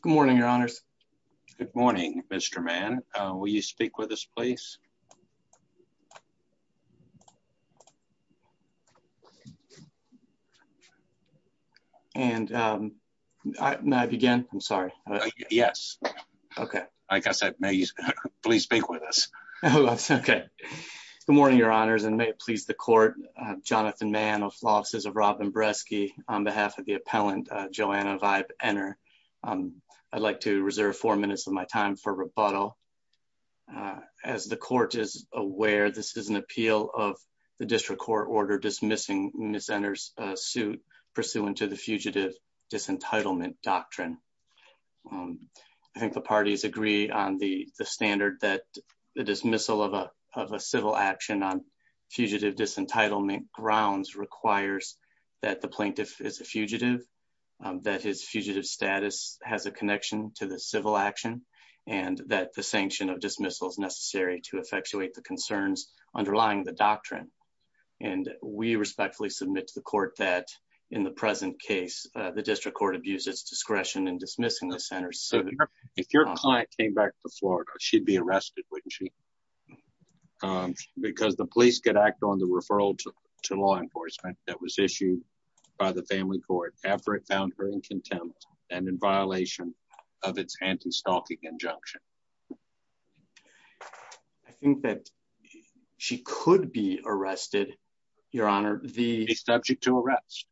Good morning, your honors. Good morning, Mr man. Will you speak with us please. And I began, I'm sorry. Yes. Okay, I guess I may please speak with us. Okay. Good morning, your honors and may it please the court, Jonathan man of losses of Robin bresky, on behalf of the appellant Joanna vibe, enter. I'd like to reserve four minutes of my time for rebuttal. As the court is aware this is an appeal of the district court order dismissing misenters suit, pursuant to the fugitive disentitlement doctrine. I think the parties agree on the standard that the dismissal of a civil action on fugitive disentitlement grounds requires that the plaintiff is a fugitive, that his fugitive status has a connection to the civil action, and that the sanction of dismissals necessary to effectuate the concerns underlying the doctrine. And we respectfully submit to the court that in the present case, the district court abuses discretion and dismissing the center so that if your client came back to Florida, she'd be arrested when she, because the police could act on the referral to law enforcement that was issued by the family court after it found her in contempt, and in violation of its anti stalking injunction. I think that she could be arrested. Your Honor, the subject to arrest.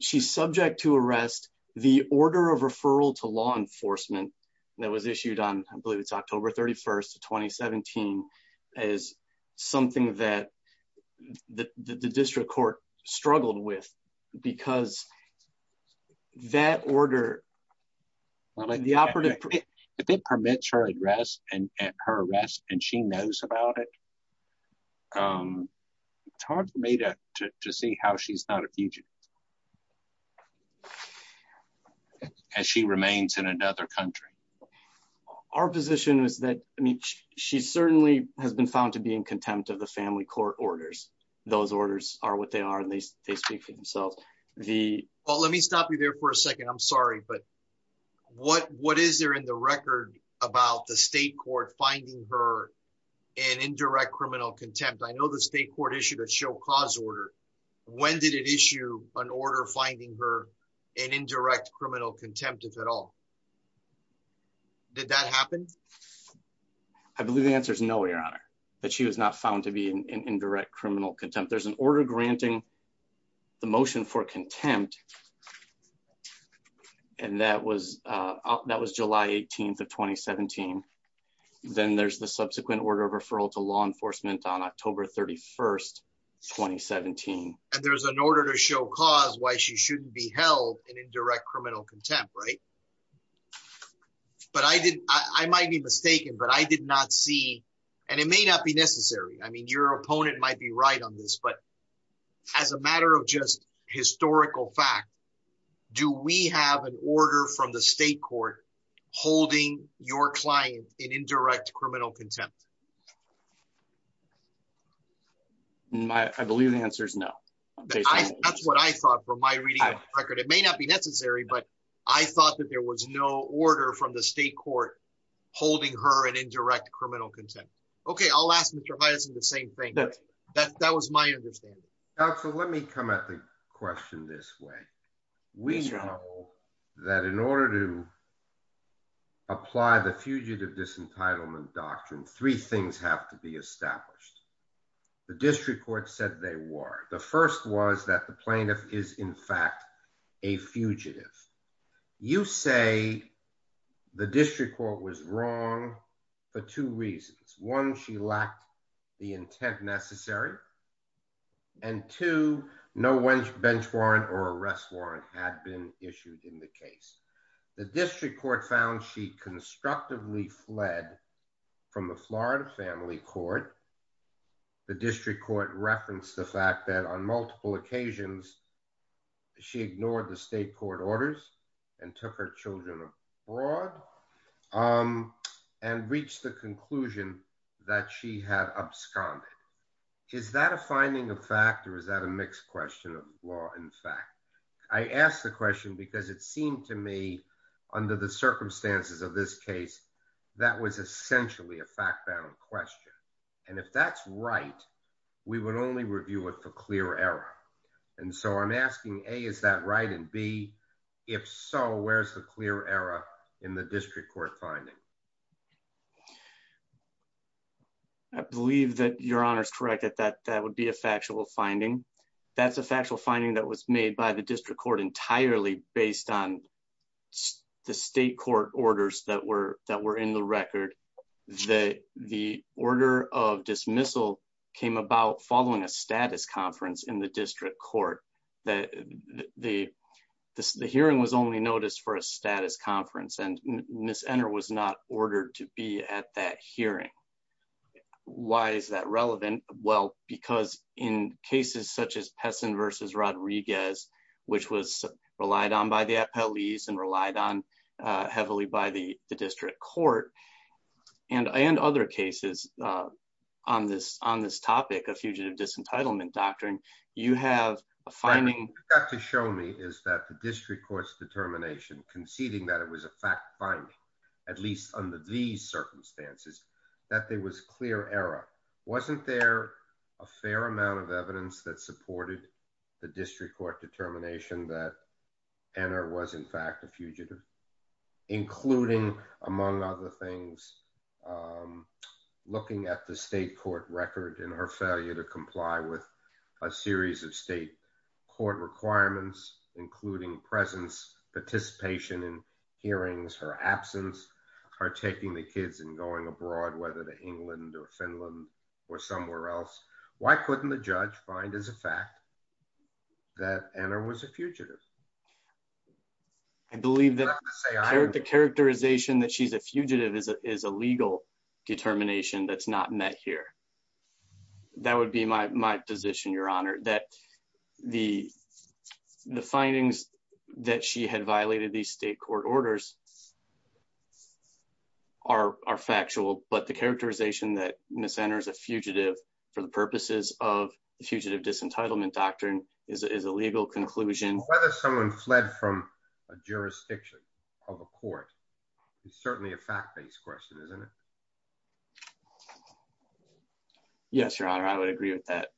She's subject to arrest the order of referral to law enforcement that was issued on, I believe it's October 31 2017 as something that the district court struggled with, because that order. The operative permits her address and her arrest and she knows about it. Talk to me to see how she's not a fugitive. As she remains in another country. Our position is that she certainly has been found to be in contempt of the family court orders. Those orders are what they are and they speak for themselves. Well, let me stop you there for a second I'm sorry but what what is there in the record about the state court finding her an indirect criminal contempt I know the state court issued a show cause order. When did it issue an order finding her an indirect criminal contempt if at all. Did that happen. I believe the answer is no your honor, but she was not found to be an indirect criminal contempt there's an order granting the motion for contempt. And that was, that was July 18 of 2017. Then there's the subsequent order of referral to law enforcement on October 31 2017, and there's an order to show cause why she shouldn't be held in indirect criminal contempt right. But I did, I might be mistaken but I did not see, and it may not be necessary I mean your opponent might be right on this but as a matter of just historical fact. Do we have an order from the state court, holding your client in indirect criminal contempt. My, I believe the answer is no. That's what I thought from my reading record it may not be necessary but I thought that there was no order from the state court, holding her an indirect criminal contempt. Okay, I'll ask Mr Madison the same thing that that that was my understanding. So let me come at the question this way. We know that in order to apply the fugitive disentitlement doctrine three things have to be established. The district court said they were the first was that the plaintiff is in fact a fugitive. You say the district court was wrong for two reasons. One, she lacked the intent necessary. And to know when bench warrant or arrest warrant had been issued in the case. The district court found she constructively fled from the Florida family court. The district court referenced the fact that on multiple occasions. She ignored the state court orders and took her children abroad and reach the conclusion that she had absconded. Is that a finding of fact or is that a mixed question of law in fact, I asked the question because it seemed to me, under the circumstances of this case, that was essentially a fact bound question. And if that's right, we would only review it for clear error. And so I'm asking a is that right and be. If so, where's the clear error in the district court finding. I believe that your honors corrected that that would be a factual finding. That's a factual finding that was made by the district court entirely based on the state court orders that were that were in the record. The, the order of dismissal came about following a status conference in the district court, that the, the hearing was only noticed for a status conference and miss enter was not ordered to be at that hearing. Why is that relevant. Well, because in cases such as Pessin versus Rodriguez, which was relied on by the police and relied on heavily by the district court and and other cases on this on this topic of fugitive disentitlement doctrine, you have a finding To show me is that the district courts determination conceding that it was a fact finding, at least under the circumstances that there was clear error. Wasn't there a fair amount of evidence that supported the district court determination that enter was in fact a fugitive, including, among other things. Looking at the state court record and her failure to comply with a series of state court requirements, including presence participation in hearings her absence are taking the kids and going abroad, whether the England or Finland or somewhere else. Why couldn't the judge find as a fact. That enter was a fugitive. I believe that the characterization that she's a fugitive is a legal determination that's not met here. That would be my position, Your Honor, that the, the findings that she had violated the state court orders. Are factual, but the characterization that misenters a fugitive for the purposes of the fugitive disentitlement doctrine is a legal conclusion, whether someone fled from a jurisdiction of a court. It's certainly a fact based question, isn't it. Yes, Your Honor, I would agree with that.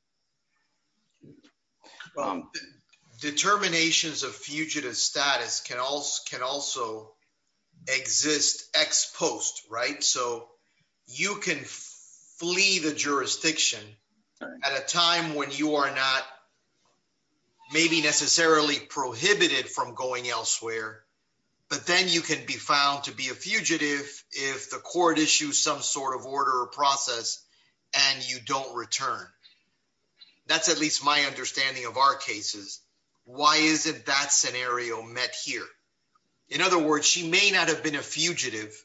Determinations of fugitive status can also can also exist ex post. Right. So you can flee the jurisdiction at a time when you are not Maybe necessarily prohibited from going elsewhere. But then you can be found to be a fugitive. If the court issue some sort of order or process and you don't return That's at least my understanding of our cases. Why isn't that scenario met here. In other words, she may not have been a fugitive.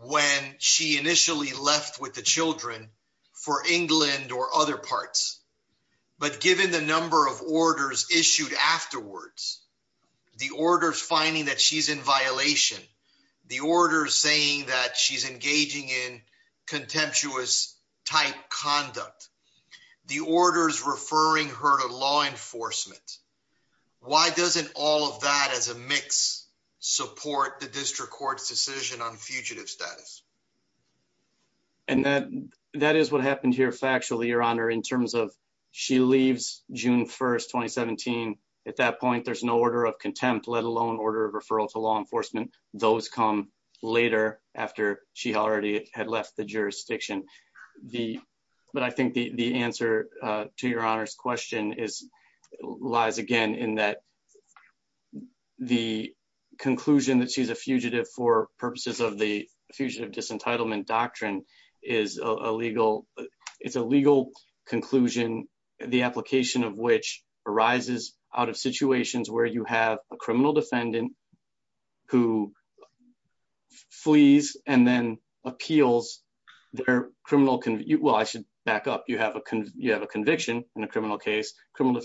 When she initially left with the children for England or other parts, but given the number of orders issued afterwards. The orders finding that she's in violation. The order saying that she's engaging in contemptuous type conduct the orders referring her to law enforcement. Why doesn't all of that as a mix support the district court's decision on fugitive status. And that that is what happened here. Factually, Your Honor, in terms of she leaves, June 1 2017 at that point, there's no order of contempt, let alone order of referral to law enforcement, those come later after she already had left the jurisdiction. But I think the answer to Your Honor's question is lies again in that the conclusion that she's a fugitive for purposes of the fugitive disentitlement doctrine is a legal. It's a legal conclusion, the application of which arises out of situations where you have a criminal defendant who flees and then appeals their criminal can you well I should back up you have a can you have a conviction in a criminal case criminal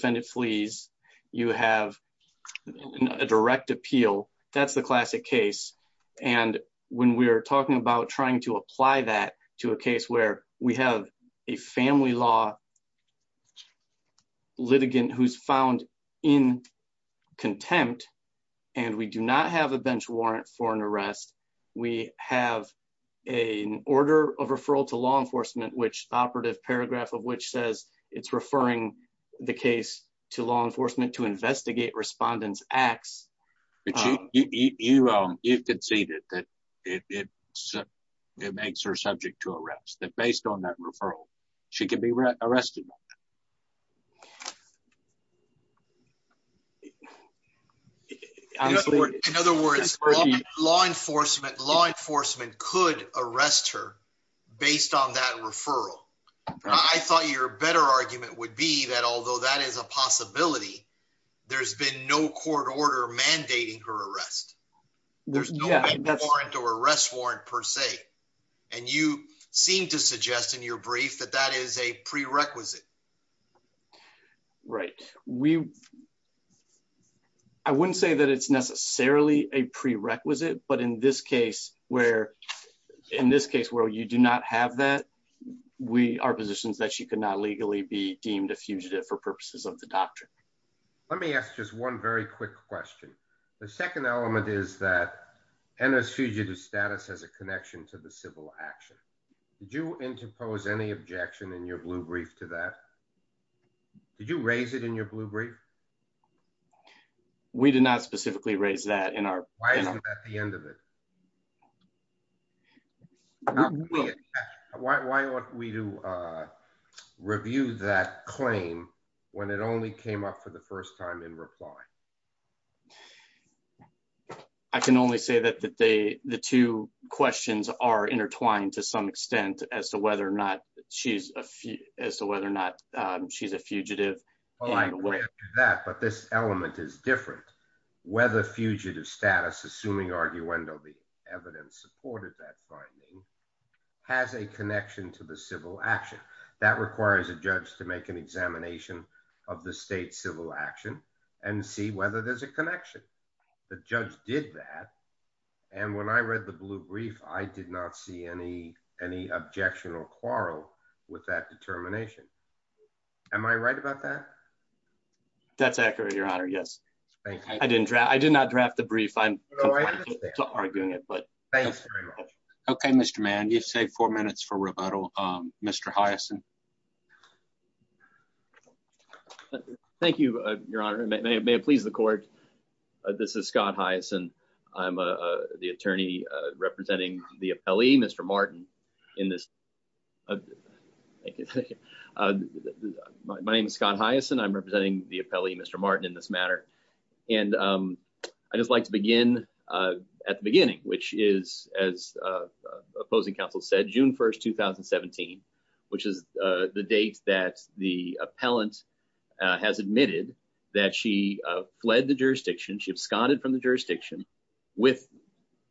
you have a direct appeal. That's the classic case. And when we're talking about trying to apply that to a case where we have a family law litigant who's found in contempt, and we do not have a bench warrant for an arrest. We have a order of referral to law enforcement which operative paragraph of which says it's referring the case to law enforcement to investigate respondents acts. You can see that it makes her subject to arrest that based on that referral. She can be arrested. Thank you. In other words, law enforcement law enforcement could arrest her based on that referral. I thought your better argument would be that although that is a possibility. There's been no court order mandating her arrest. There's no warrant or arrest warrant per se. And you seem to suggest in your brief that that is a prerequisite. Right, we. I wouldn't say that it's necessarily a prerequisite, but in this case, where, in this case where you do not have that we are positions that she could not legally be deemed a fugitive for purposes of the doctrine. Let me ask just one very quick question. The second element is that NS fugitive status has a connection to the civil action. Do you interpose any objection in your blue brief to that. Did you raise it in your blue brief. We did not specifically raise that in our, at the end of it. Why don't we do review that claim when it only came up for the first time in reply. I can only say that that they, the two questions are intertwined to some extent as to whether or not she's a few as to whether or not she's a fugitive. That but this element is different, whether fugitive status assuming argue when they'll be evidence supported that finding has a connection to the civil action that requires a judge to make an examination of the state civil action and see whether there's a connection. The judge did that. And when I read the blue brief, I did not see any, any objection or quarrel with that determination. Am I right about that. That's accurate, Your Honor. Yes. I didn't draft I did not draft the brief I'm arguing it but thanks. Okay, Mr man you say four minutes for rebuttal. Mr hyacinth. Thank you, Your Honor, may it please the court. This is Scott hyacinth. I'm the attorney representing the appellee Mr Martin in this. My name is Scott hyacinth I'm representing the appellee Mr Martin in this matter. And I just like to begin at the beginning, which is as opposing counsel said June 1 2017, which is the date that the appellant has admitted that she fled the jurisdiction she absconded from the jurisdiction with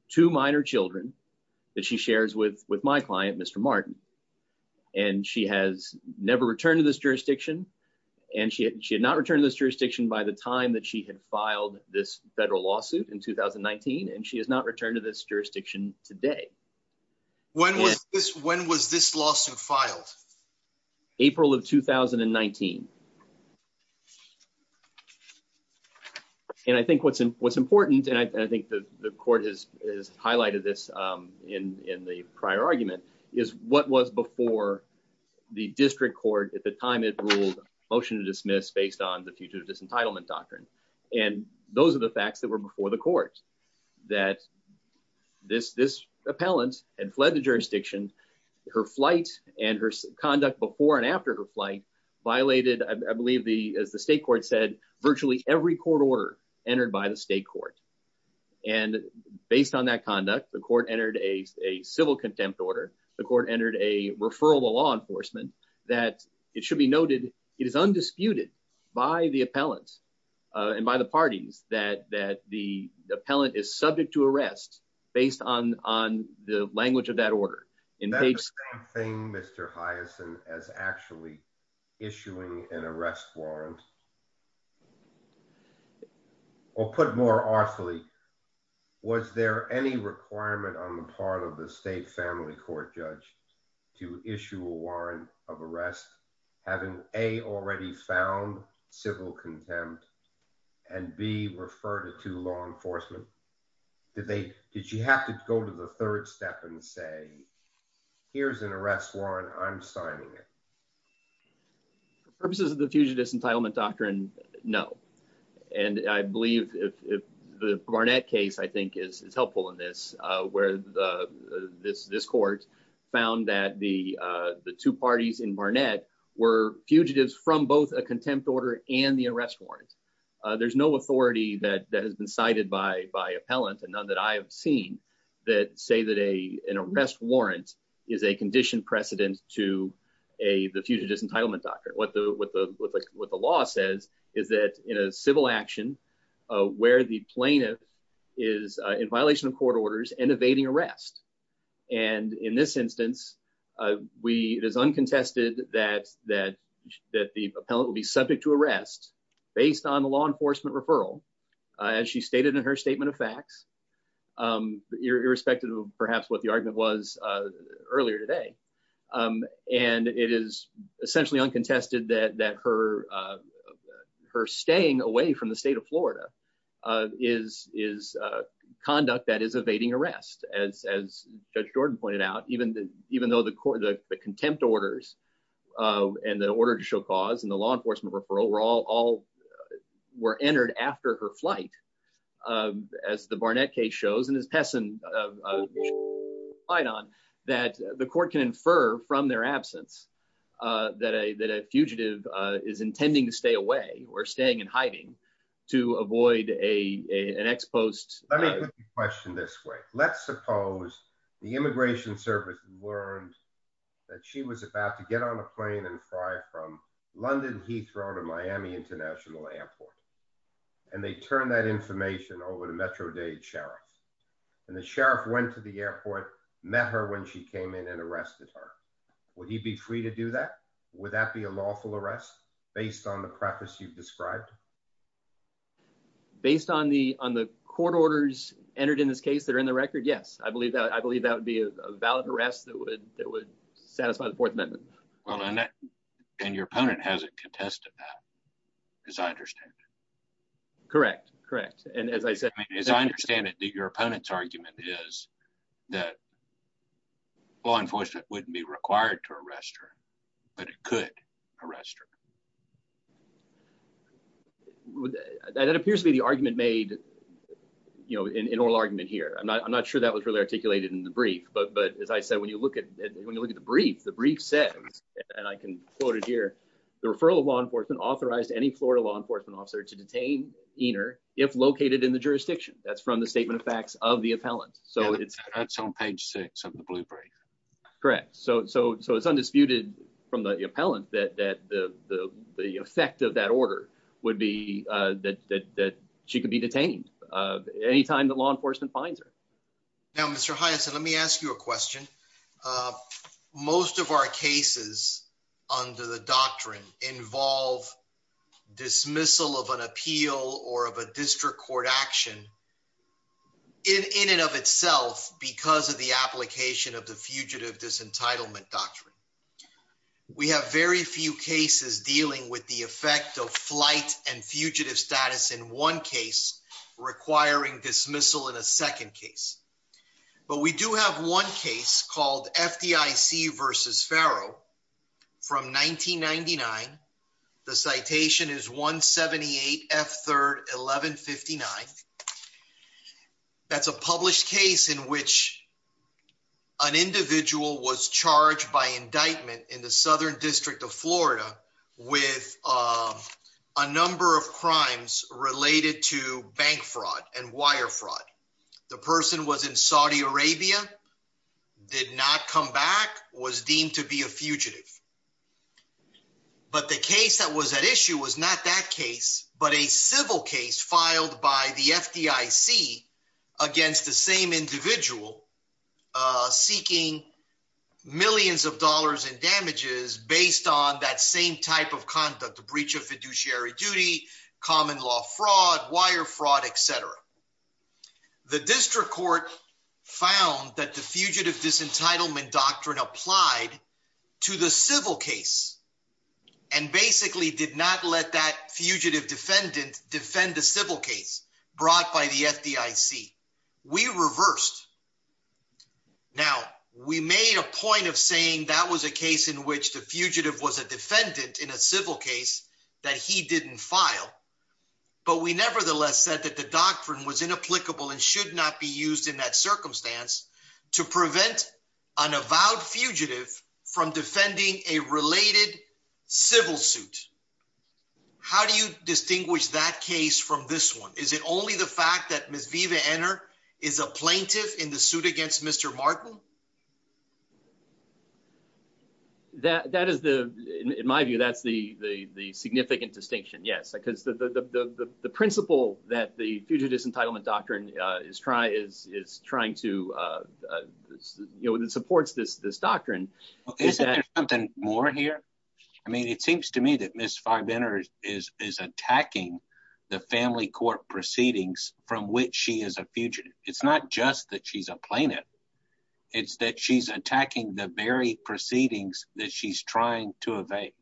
two minor children that she shares with with my client Mr Martin. And she has never returned to this jurisdiction, and she had not returned to this jurisdiction by the time that she had filed this federal lawsuit in 2019 and she has not returned to this jurisdiction today. When was this when was this lawsuit filed. April of 2019. And I think what's what's important and I think the court is is highlighted this in in the prior argument is what was before the district court at the time it ruled motion to dismiss based on the future of disentitlement doctrine. And those are the facts that were before the court that this this appellant and fled the jurisdiction, her flight, and her conduct before and after her flight violated I believe the as the state court said, virtually every court order entered by the state And based on that conduct the court entered a civil contempt order, the court entered a referral to law enforcement, that it should be noted, it is undisputed by the appellants, and by the parties that that the appellant is subject to arrest, based on on the language of that order. In page thing Mr hyacinth as actually issuing an arrest warrant. Or put more artfully. Was there any requirement on the part of the state family court judge to issue a warrant of arrest, having a already found civil contempt and be referred to law enforcement, did they did you have to go to the third step and say, here's an arrest warrant I'm signing it. For the purposes of the future disentitlement doctrine. No. And I believe if the Barnett case I think is helpful in this, where the this this court found that the, the two parties in Barnett were fugitives from both a contempt order and the arrest warrant. There's no authority that that has been cited by by appellant and none that I have seen that say that a an arrest warrant is a condition precedent to a the future disentitlement doctrine what the what the what the what the law says is that in a civil action, where the plaintiff is in violation of court orders and evading arrest. And in this instance, we it is uncontested that that that the appellant will be subject to arrest, based on the law enforcement referral, as she stated in her statement of facts, irrespective of perhaps what the argument was earlier today. And it is essentially uncontested that that her, her staying away from the state of Florida is is conduct that is evading arrest as as Jordan pointed out, even, even though the court the contempt orders and the order to show cause and the law enforcement referral were all were entered after her flight. As the Barnett case shows and his peasant. I don't that the court can infer from their absence that a that a fugitive is intending to stay away or staying in hiding to avoid a an ex post. Let me put the question this way, let's suppose the Immigration Service learned that she was about to get on a plane and fly from London Heathrow to Miami International Airport. And they turn that information over to Metro day sheriff. And the sheriff went to the airport, met her when she came in and arrested her. Would he be free to do that. Would that be a lawful arrest, based on the practice you've described. Based on the, on the court orders entered in this case that are in the record. Yes, I believe that I believe that would be a valid arrest that would, that would satisfy the Fourth Amendment. Well, and that can your opponent hasn't contested. As I understand. Correct, correct. And as I said, as I understand it, your opponent's argument is that law enforcement wouldn't be required to arrest her. But it could arrest her. That appears to be the argument made, you know, in oral argument here I'm not I'm not sure that was really articulated in the brief but but as I said when you look at when you look at the brief the brief says, and I can quote it here. The referral of law enforcement authorized any Florida law enforcement officer to detain either if located in the jurisdiction, that's from the statement of facts of the appellant, so it's on page six of the blueprint. Correct. So, so, so it's undisputed from the appellant that the effect of that order would be that she could be detained. Anytime that law enforcement finds her. Let me ask you a question. Most of our cases under the doctrine involve dismissal of an appeal or of a district court action in and of itself because of the application of the fugitive disentitlement doctrine. We have very few cases dealing with the effect of flight and fugitive status in one case, requiring dismissal in a second case. But we do have one case called FTC versus Pharaoh from 1999. The citation is 178 F third 1159. That's a published case in which an individual was charged by indictment in the southern district of Florida, with a number of crimes related to bank fraud and wire fraud. The person was in Saudi Arabia did not come back was deemed to be a fugitive. But the case that was at issue was not that case, but a civil case filed by the FTC against the same individual, seeking millions of dollars in damages based on that same type of conduct the breach of fiduciary duty, common law fraud wire fraud, etc. The district court found that the fugitive disentitlement doctrine applied to the civil case, and basically did not let that fugitive defendant defend the civil case brought by the FTC, we reversed. Now, we made a point of saying that was a case in which the fugitive was a defendant in a civil case that he didn't file. But we nevertheless said that the doctrine was inapplicable and should not be used in that circumstance to prevent an avowed fugitive from defending a related civil suit. How do you distinguish that case from this one, is it only the fact that Miss Viva enter is a plaintiff in the suit against Mr. That that is the, in my view, that's the, the, the significant distinction yes because the principle that the future disentitlement doctrine is try is is trying to support this this doctrine. More here. I mean, it seems to me that Miss five enters is is attacking the family court proceedings, from which she is a future. It's not just that she's a plaintiff. It's that she's attacking the very proceedings that she's trying to evade.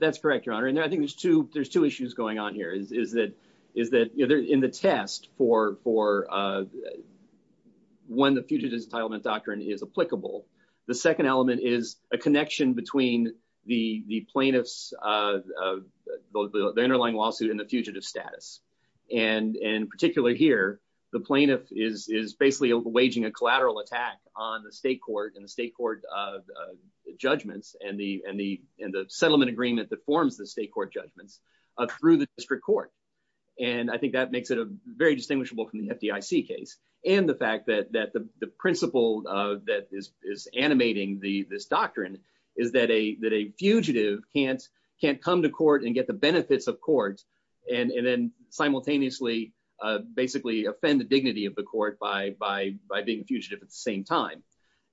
That's correct, your honor. And I think there's two there's two issues going on here is is that is that either in the test for for When the fugitives entitlement doctrine is applicable. The second element is a connection between the the plaintiffs. The underlying lawsuit and the fugitive status and and particularly here, the plaintiff is is basically a waging a collateral attack on the state court and the state court. Judgments and the and the end of settlement agreement that forms the state court judgments of through the district court. And I think that makes it a very distinguishable from the FDIC case and the fact that that the principle that is is animating the this doctrine. Is that a that a fugitive can't can't come to court and get the benefits of court and and then simultaneously basically offend the dignity of the court by by by being fugitive at the same time.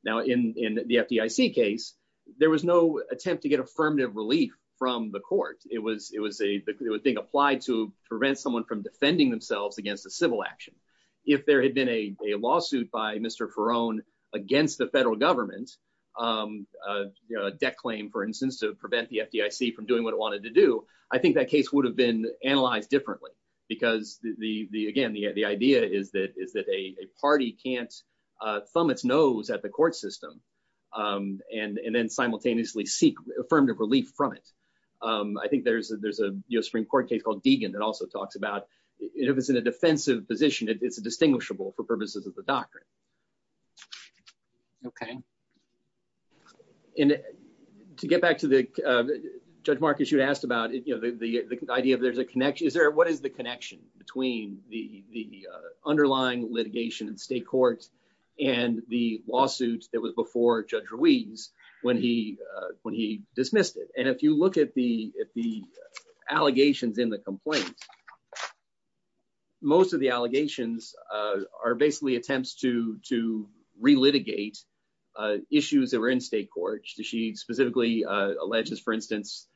Now in the FDIC case, there was no attempt to get affirmative relief from the court, it was, it was a thing applied to prevent someone from defending themselves against a civil action. If there had been a lawsuit by Mr for own against the federal government. Declaim, for instance, to prevent the FDIC from doing what it wanted to do. I think that case would have been analyzed differently because the, the, again, the, the idea is that is that a party can't Thumb its nose at the court system and and then simultaneously seek affirmative relief from it. I think there's a there's a US Supreme Court case called Deegan that also talks about if it's in a defensive position. It's a distinguishable for purposes of the doctrine. Okay. And to get back to the judge Marcus you asked about it, you know, the, the idea of there's a connection is there, what is the connection between the, the underlying litigation and state court, and the lawsuit that was before Judge Ruiz, when he when he dismissed it and if you look at the, the allegations in the complaint. Most of the allegations are basically attempts to to relitigate issues that were in state court, she specifically alleges for instance,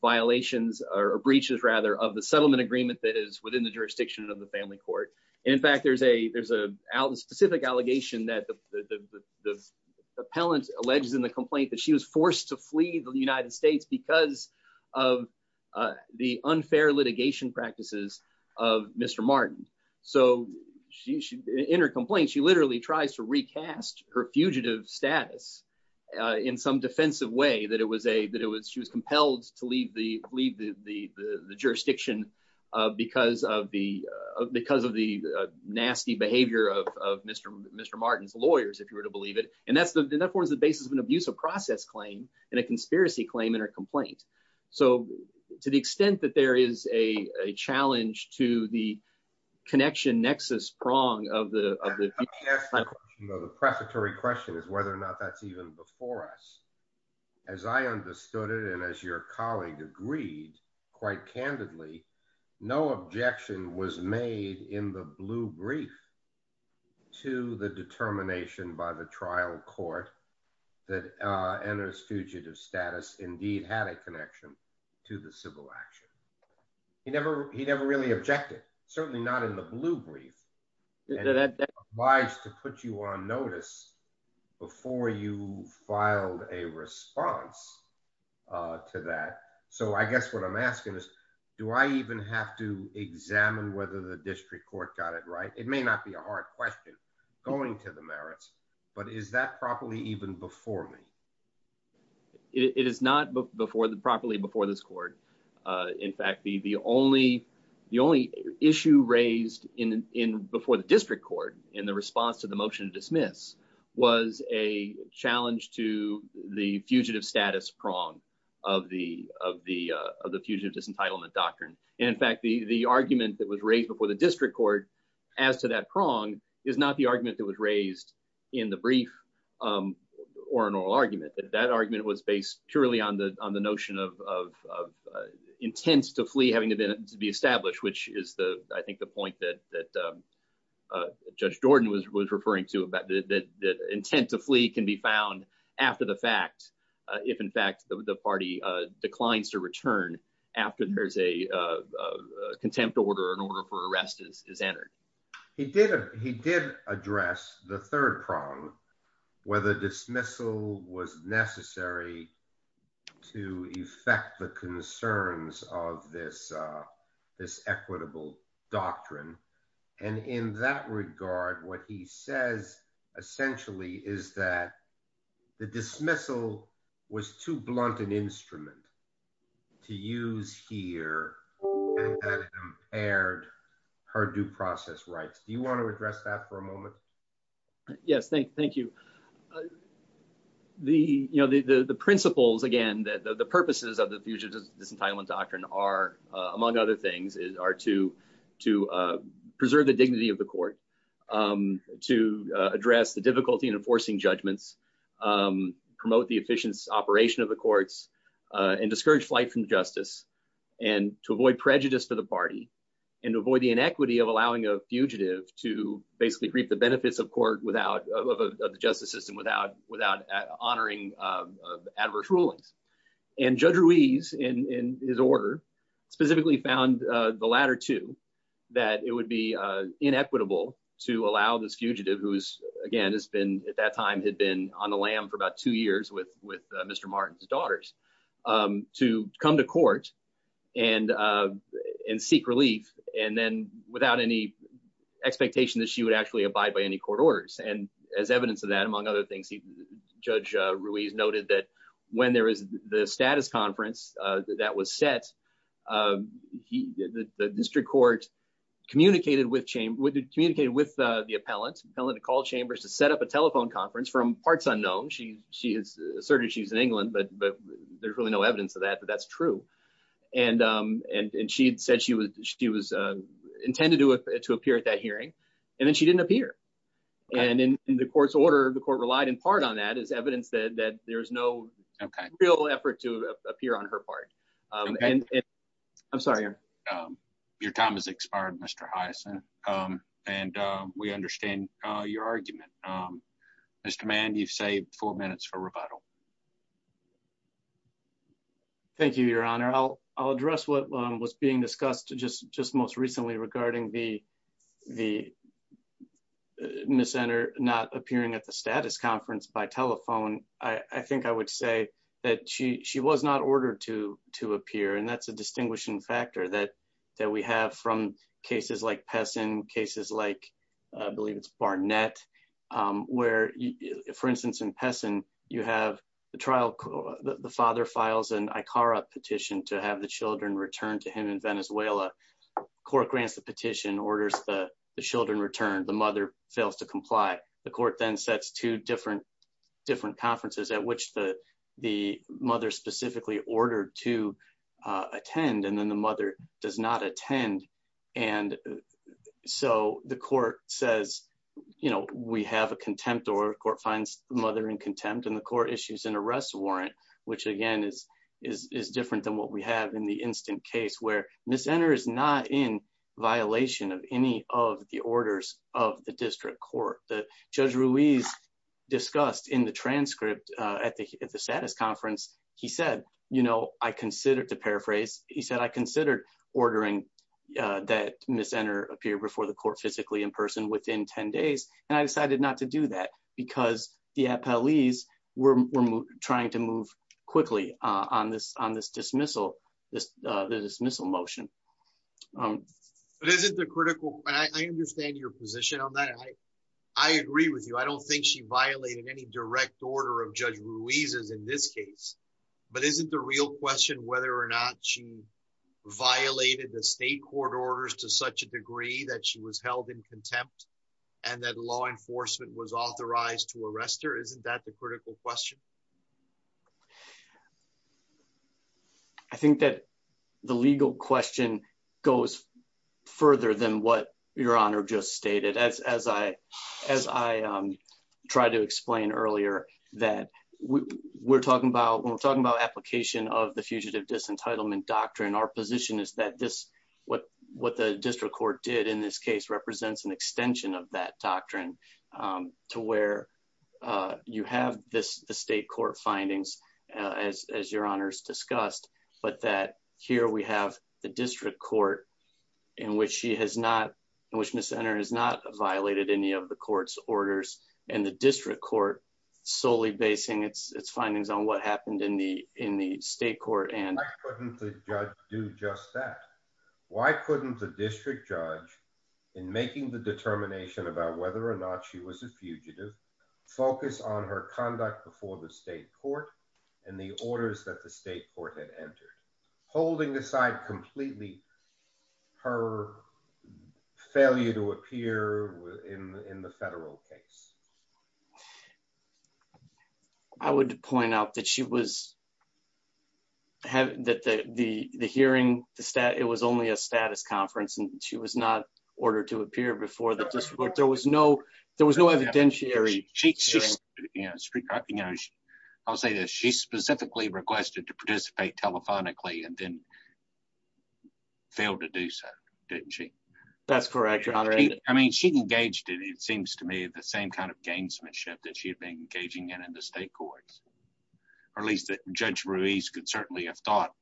violations or breaches rather of the settlement agreement that is within the jurisdiction of the family court. In fact, there's a there's a specific allegation that the appellant alleges in the complaint that she was forced to flee the United States because of the unfair litigation practices of Mr. So, she in her complaint she literally tries to recast her fugitive status in some defensive way that it was a that it was she was compelled to leave the leave the jurisdiction, because of the, because of the nasty behavior of Mr. Martin's lawyers if you were to believe it, and that's the that was the basis of an abusive process claim and a conspiracy claim in her complaint. So, to the extent that there is a challenge to the connection nexus prong of the The prefatory question is whether or not that's even before us, as I understood it and as your colleague agreed, quite candidly, no objection was made in the blue brief to the determination by the trial court that enters fugitive status indeed had a connection to the civil action. He never he never really objected, certainly not in the blue brief that buys to put you on notice before you filed a response to that. So I guess what I'm asking is, do I even have to examine whether the district court got it right, it may not be a hard question going to the merits, but is that properly even before me. It is not before the properly before this court. In fact, the the only the only issue raised in in before the district court in the response to the motion dismiss was a challenge to the fugitive status prong of the, of the, of the fugitive disentitlement doctrine. In fact, the the argument that was raised before the district court as to that prong is not the argument that was raised in the brief or an oral argument that that argument was based purely on the, on the notion of intense to flee having to be established, which is the, I think the point that that Judge Jordan was was referring to about the intent to flee can be found after the fact, if in fact the party declines to return after there's a contempt order in order for arrest is is entered He did he did address the third prong whether dismissal was necessary to effect the concerns of this this equitable doctrine. And in that regard, what he says, essentially, is that the dismissal was too blunt an instrument to use here and paired her due process rights, do you want to address that for a moment. Yes, thank thank you. The, you know, the, the principles again that the purposes of the fugitive disentitlement doctrine are, among other things, is our to to preserve the dignity of the court to address the difficulty in enforcing judgments. Promote the efficient operation of the courts and discourage flight from justice and to avoid prejudice for the party and avoid the inequity of allowing a fugitive to basically reap the benefits of court without the justice system without without honoring Adverse rulings and judge Ruiz in his order specifically found the latter to that it would be inequitable to allow this fugitive who's again it's been at that time had been on the lam for about two years with with Mr. Martin's daughters to come to court and and seek relief, and then without any expectation that she would actually abide by any court orders and as evidence of that among other things he judge Ruiz noted that when there is the status conference that was set. He did the district court communicated with chain would communicate with the appellant pelleted call chambers to set up a telephone conference from parts unknown she she is certain she's in England but but there's really no evidence of that but that's true. And, and she said she was she was intended to appear at that hearing. And then she didn't appear. And in the courts order the court relied in part on that as evidence that that there's no real effort to appear on her part. I'm sorry. Your time is expired Mr Hyacinth. And we understand your argument. Mr man you've saved four minutes for rebuttal. Thank you, Your Honor, I'll, I'll address what was being discussed just just most recently regarding the, the center, not appearing at the status conference by telephone, I think I would say that she she was not ordered to to appear and that's a trial. The father files and I Cara petition to have the children returned to him in Venezuela court grants the petition orders the children return the mother fails to comply, the court then sets two different, different conferences at which the, the mother specifically in contempt and the court issues and arrest warrant, which again is, is different than what we have in the instant case where this center is not in violation of any of the orders of the district court, the judge Ruiz discussed in the transcript. At the, at the status conference, he said, you know, I considered to paraphrase, he said I considered ordering that Miss center appear before the court physically in person within 10 days, and I decided not to do that because the police were trying to move quickly on this on this dismissal this dismissal motion. But isn't the critical, I understand your position on that. I agree with you I don't think she violated any direct order of judge Ruiz is in this case, but isn't the real question whether or not she violated the state court orders to such a degree that she was held in contempt, and that law enforcement was authorized to arrest her isn't that the critical question. I think that the legal question goes further than what your honor just stated as as I, as I tried to explain earlier that we're talking about when we're talking about application of the fugitive disentitlement doctrine our position is that this, what, what the district court did in this case represents an extension of that doctrine, to where you have this, the state court findings, as your honors discussed, but that here we have the district court in which she has not in which Miss center is not violated any of the courts orders, and the district court solely basing its findings on what happened in the, in the state court and the judge do just that. Why couldn't the district judge in making the determination about whether or not she was a fugitive focus on her conduct before the state court, and the orders that the state court had entered holding aside completely her failure to appear in the federal case. I would point out that she was having that the, the, the hearing, the stat, it was only a status conference and she was not ordered to appear before the district there was no, there was no evidentiary. You know, I'll say that she specifically requested to participate telephonically and then failed to do so. Didn't she. That's correct. I mean she engaged in it seems to me the same kind of gamesmanship that she had been engaging in in the state courts, or at least that judge Ruiz could certainly have thought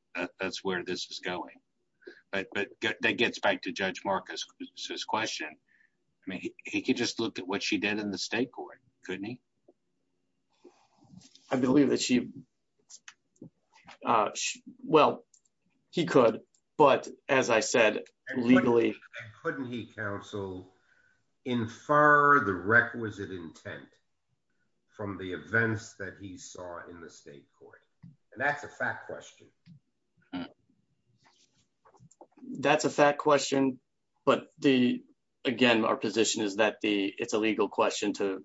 that's where this is going. But that gets back to Judge Marcus says question. I mean, he could just look at what she did in the state court, couldn't he. I believe that she. Well, he could, but as I said, legally. Couldn't he counsel infer the requisite intent from the events that he saw in the state court. And that's a fact question. That's a fact question. But the, again, our position is that the, it's a legal question to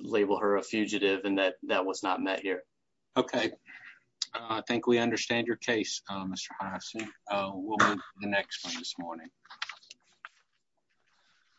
label her a fugitive and that that was not met here. Okay. I think we understand your case, Mr. The next one this morning.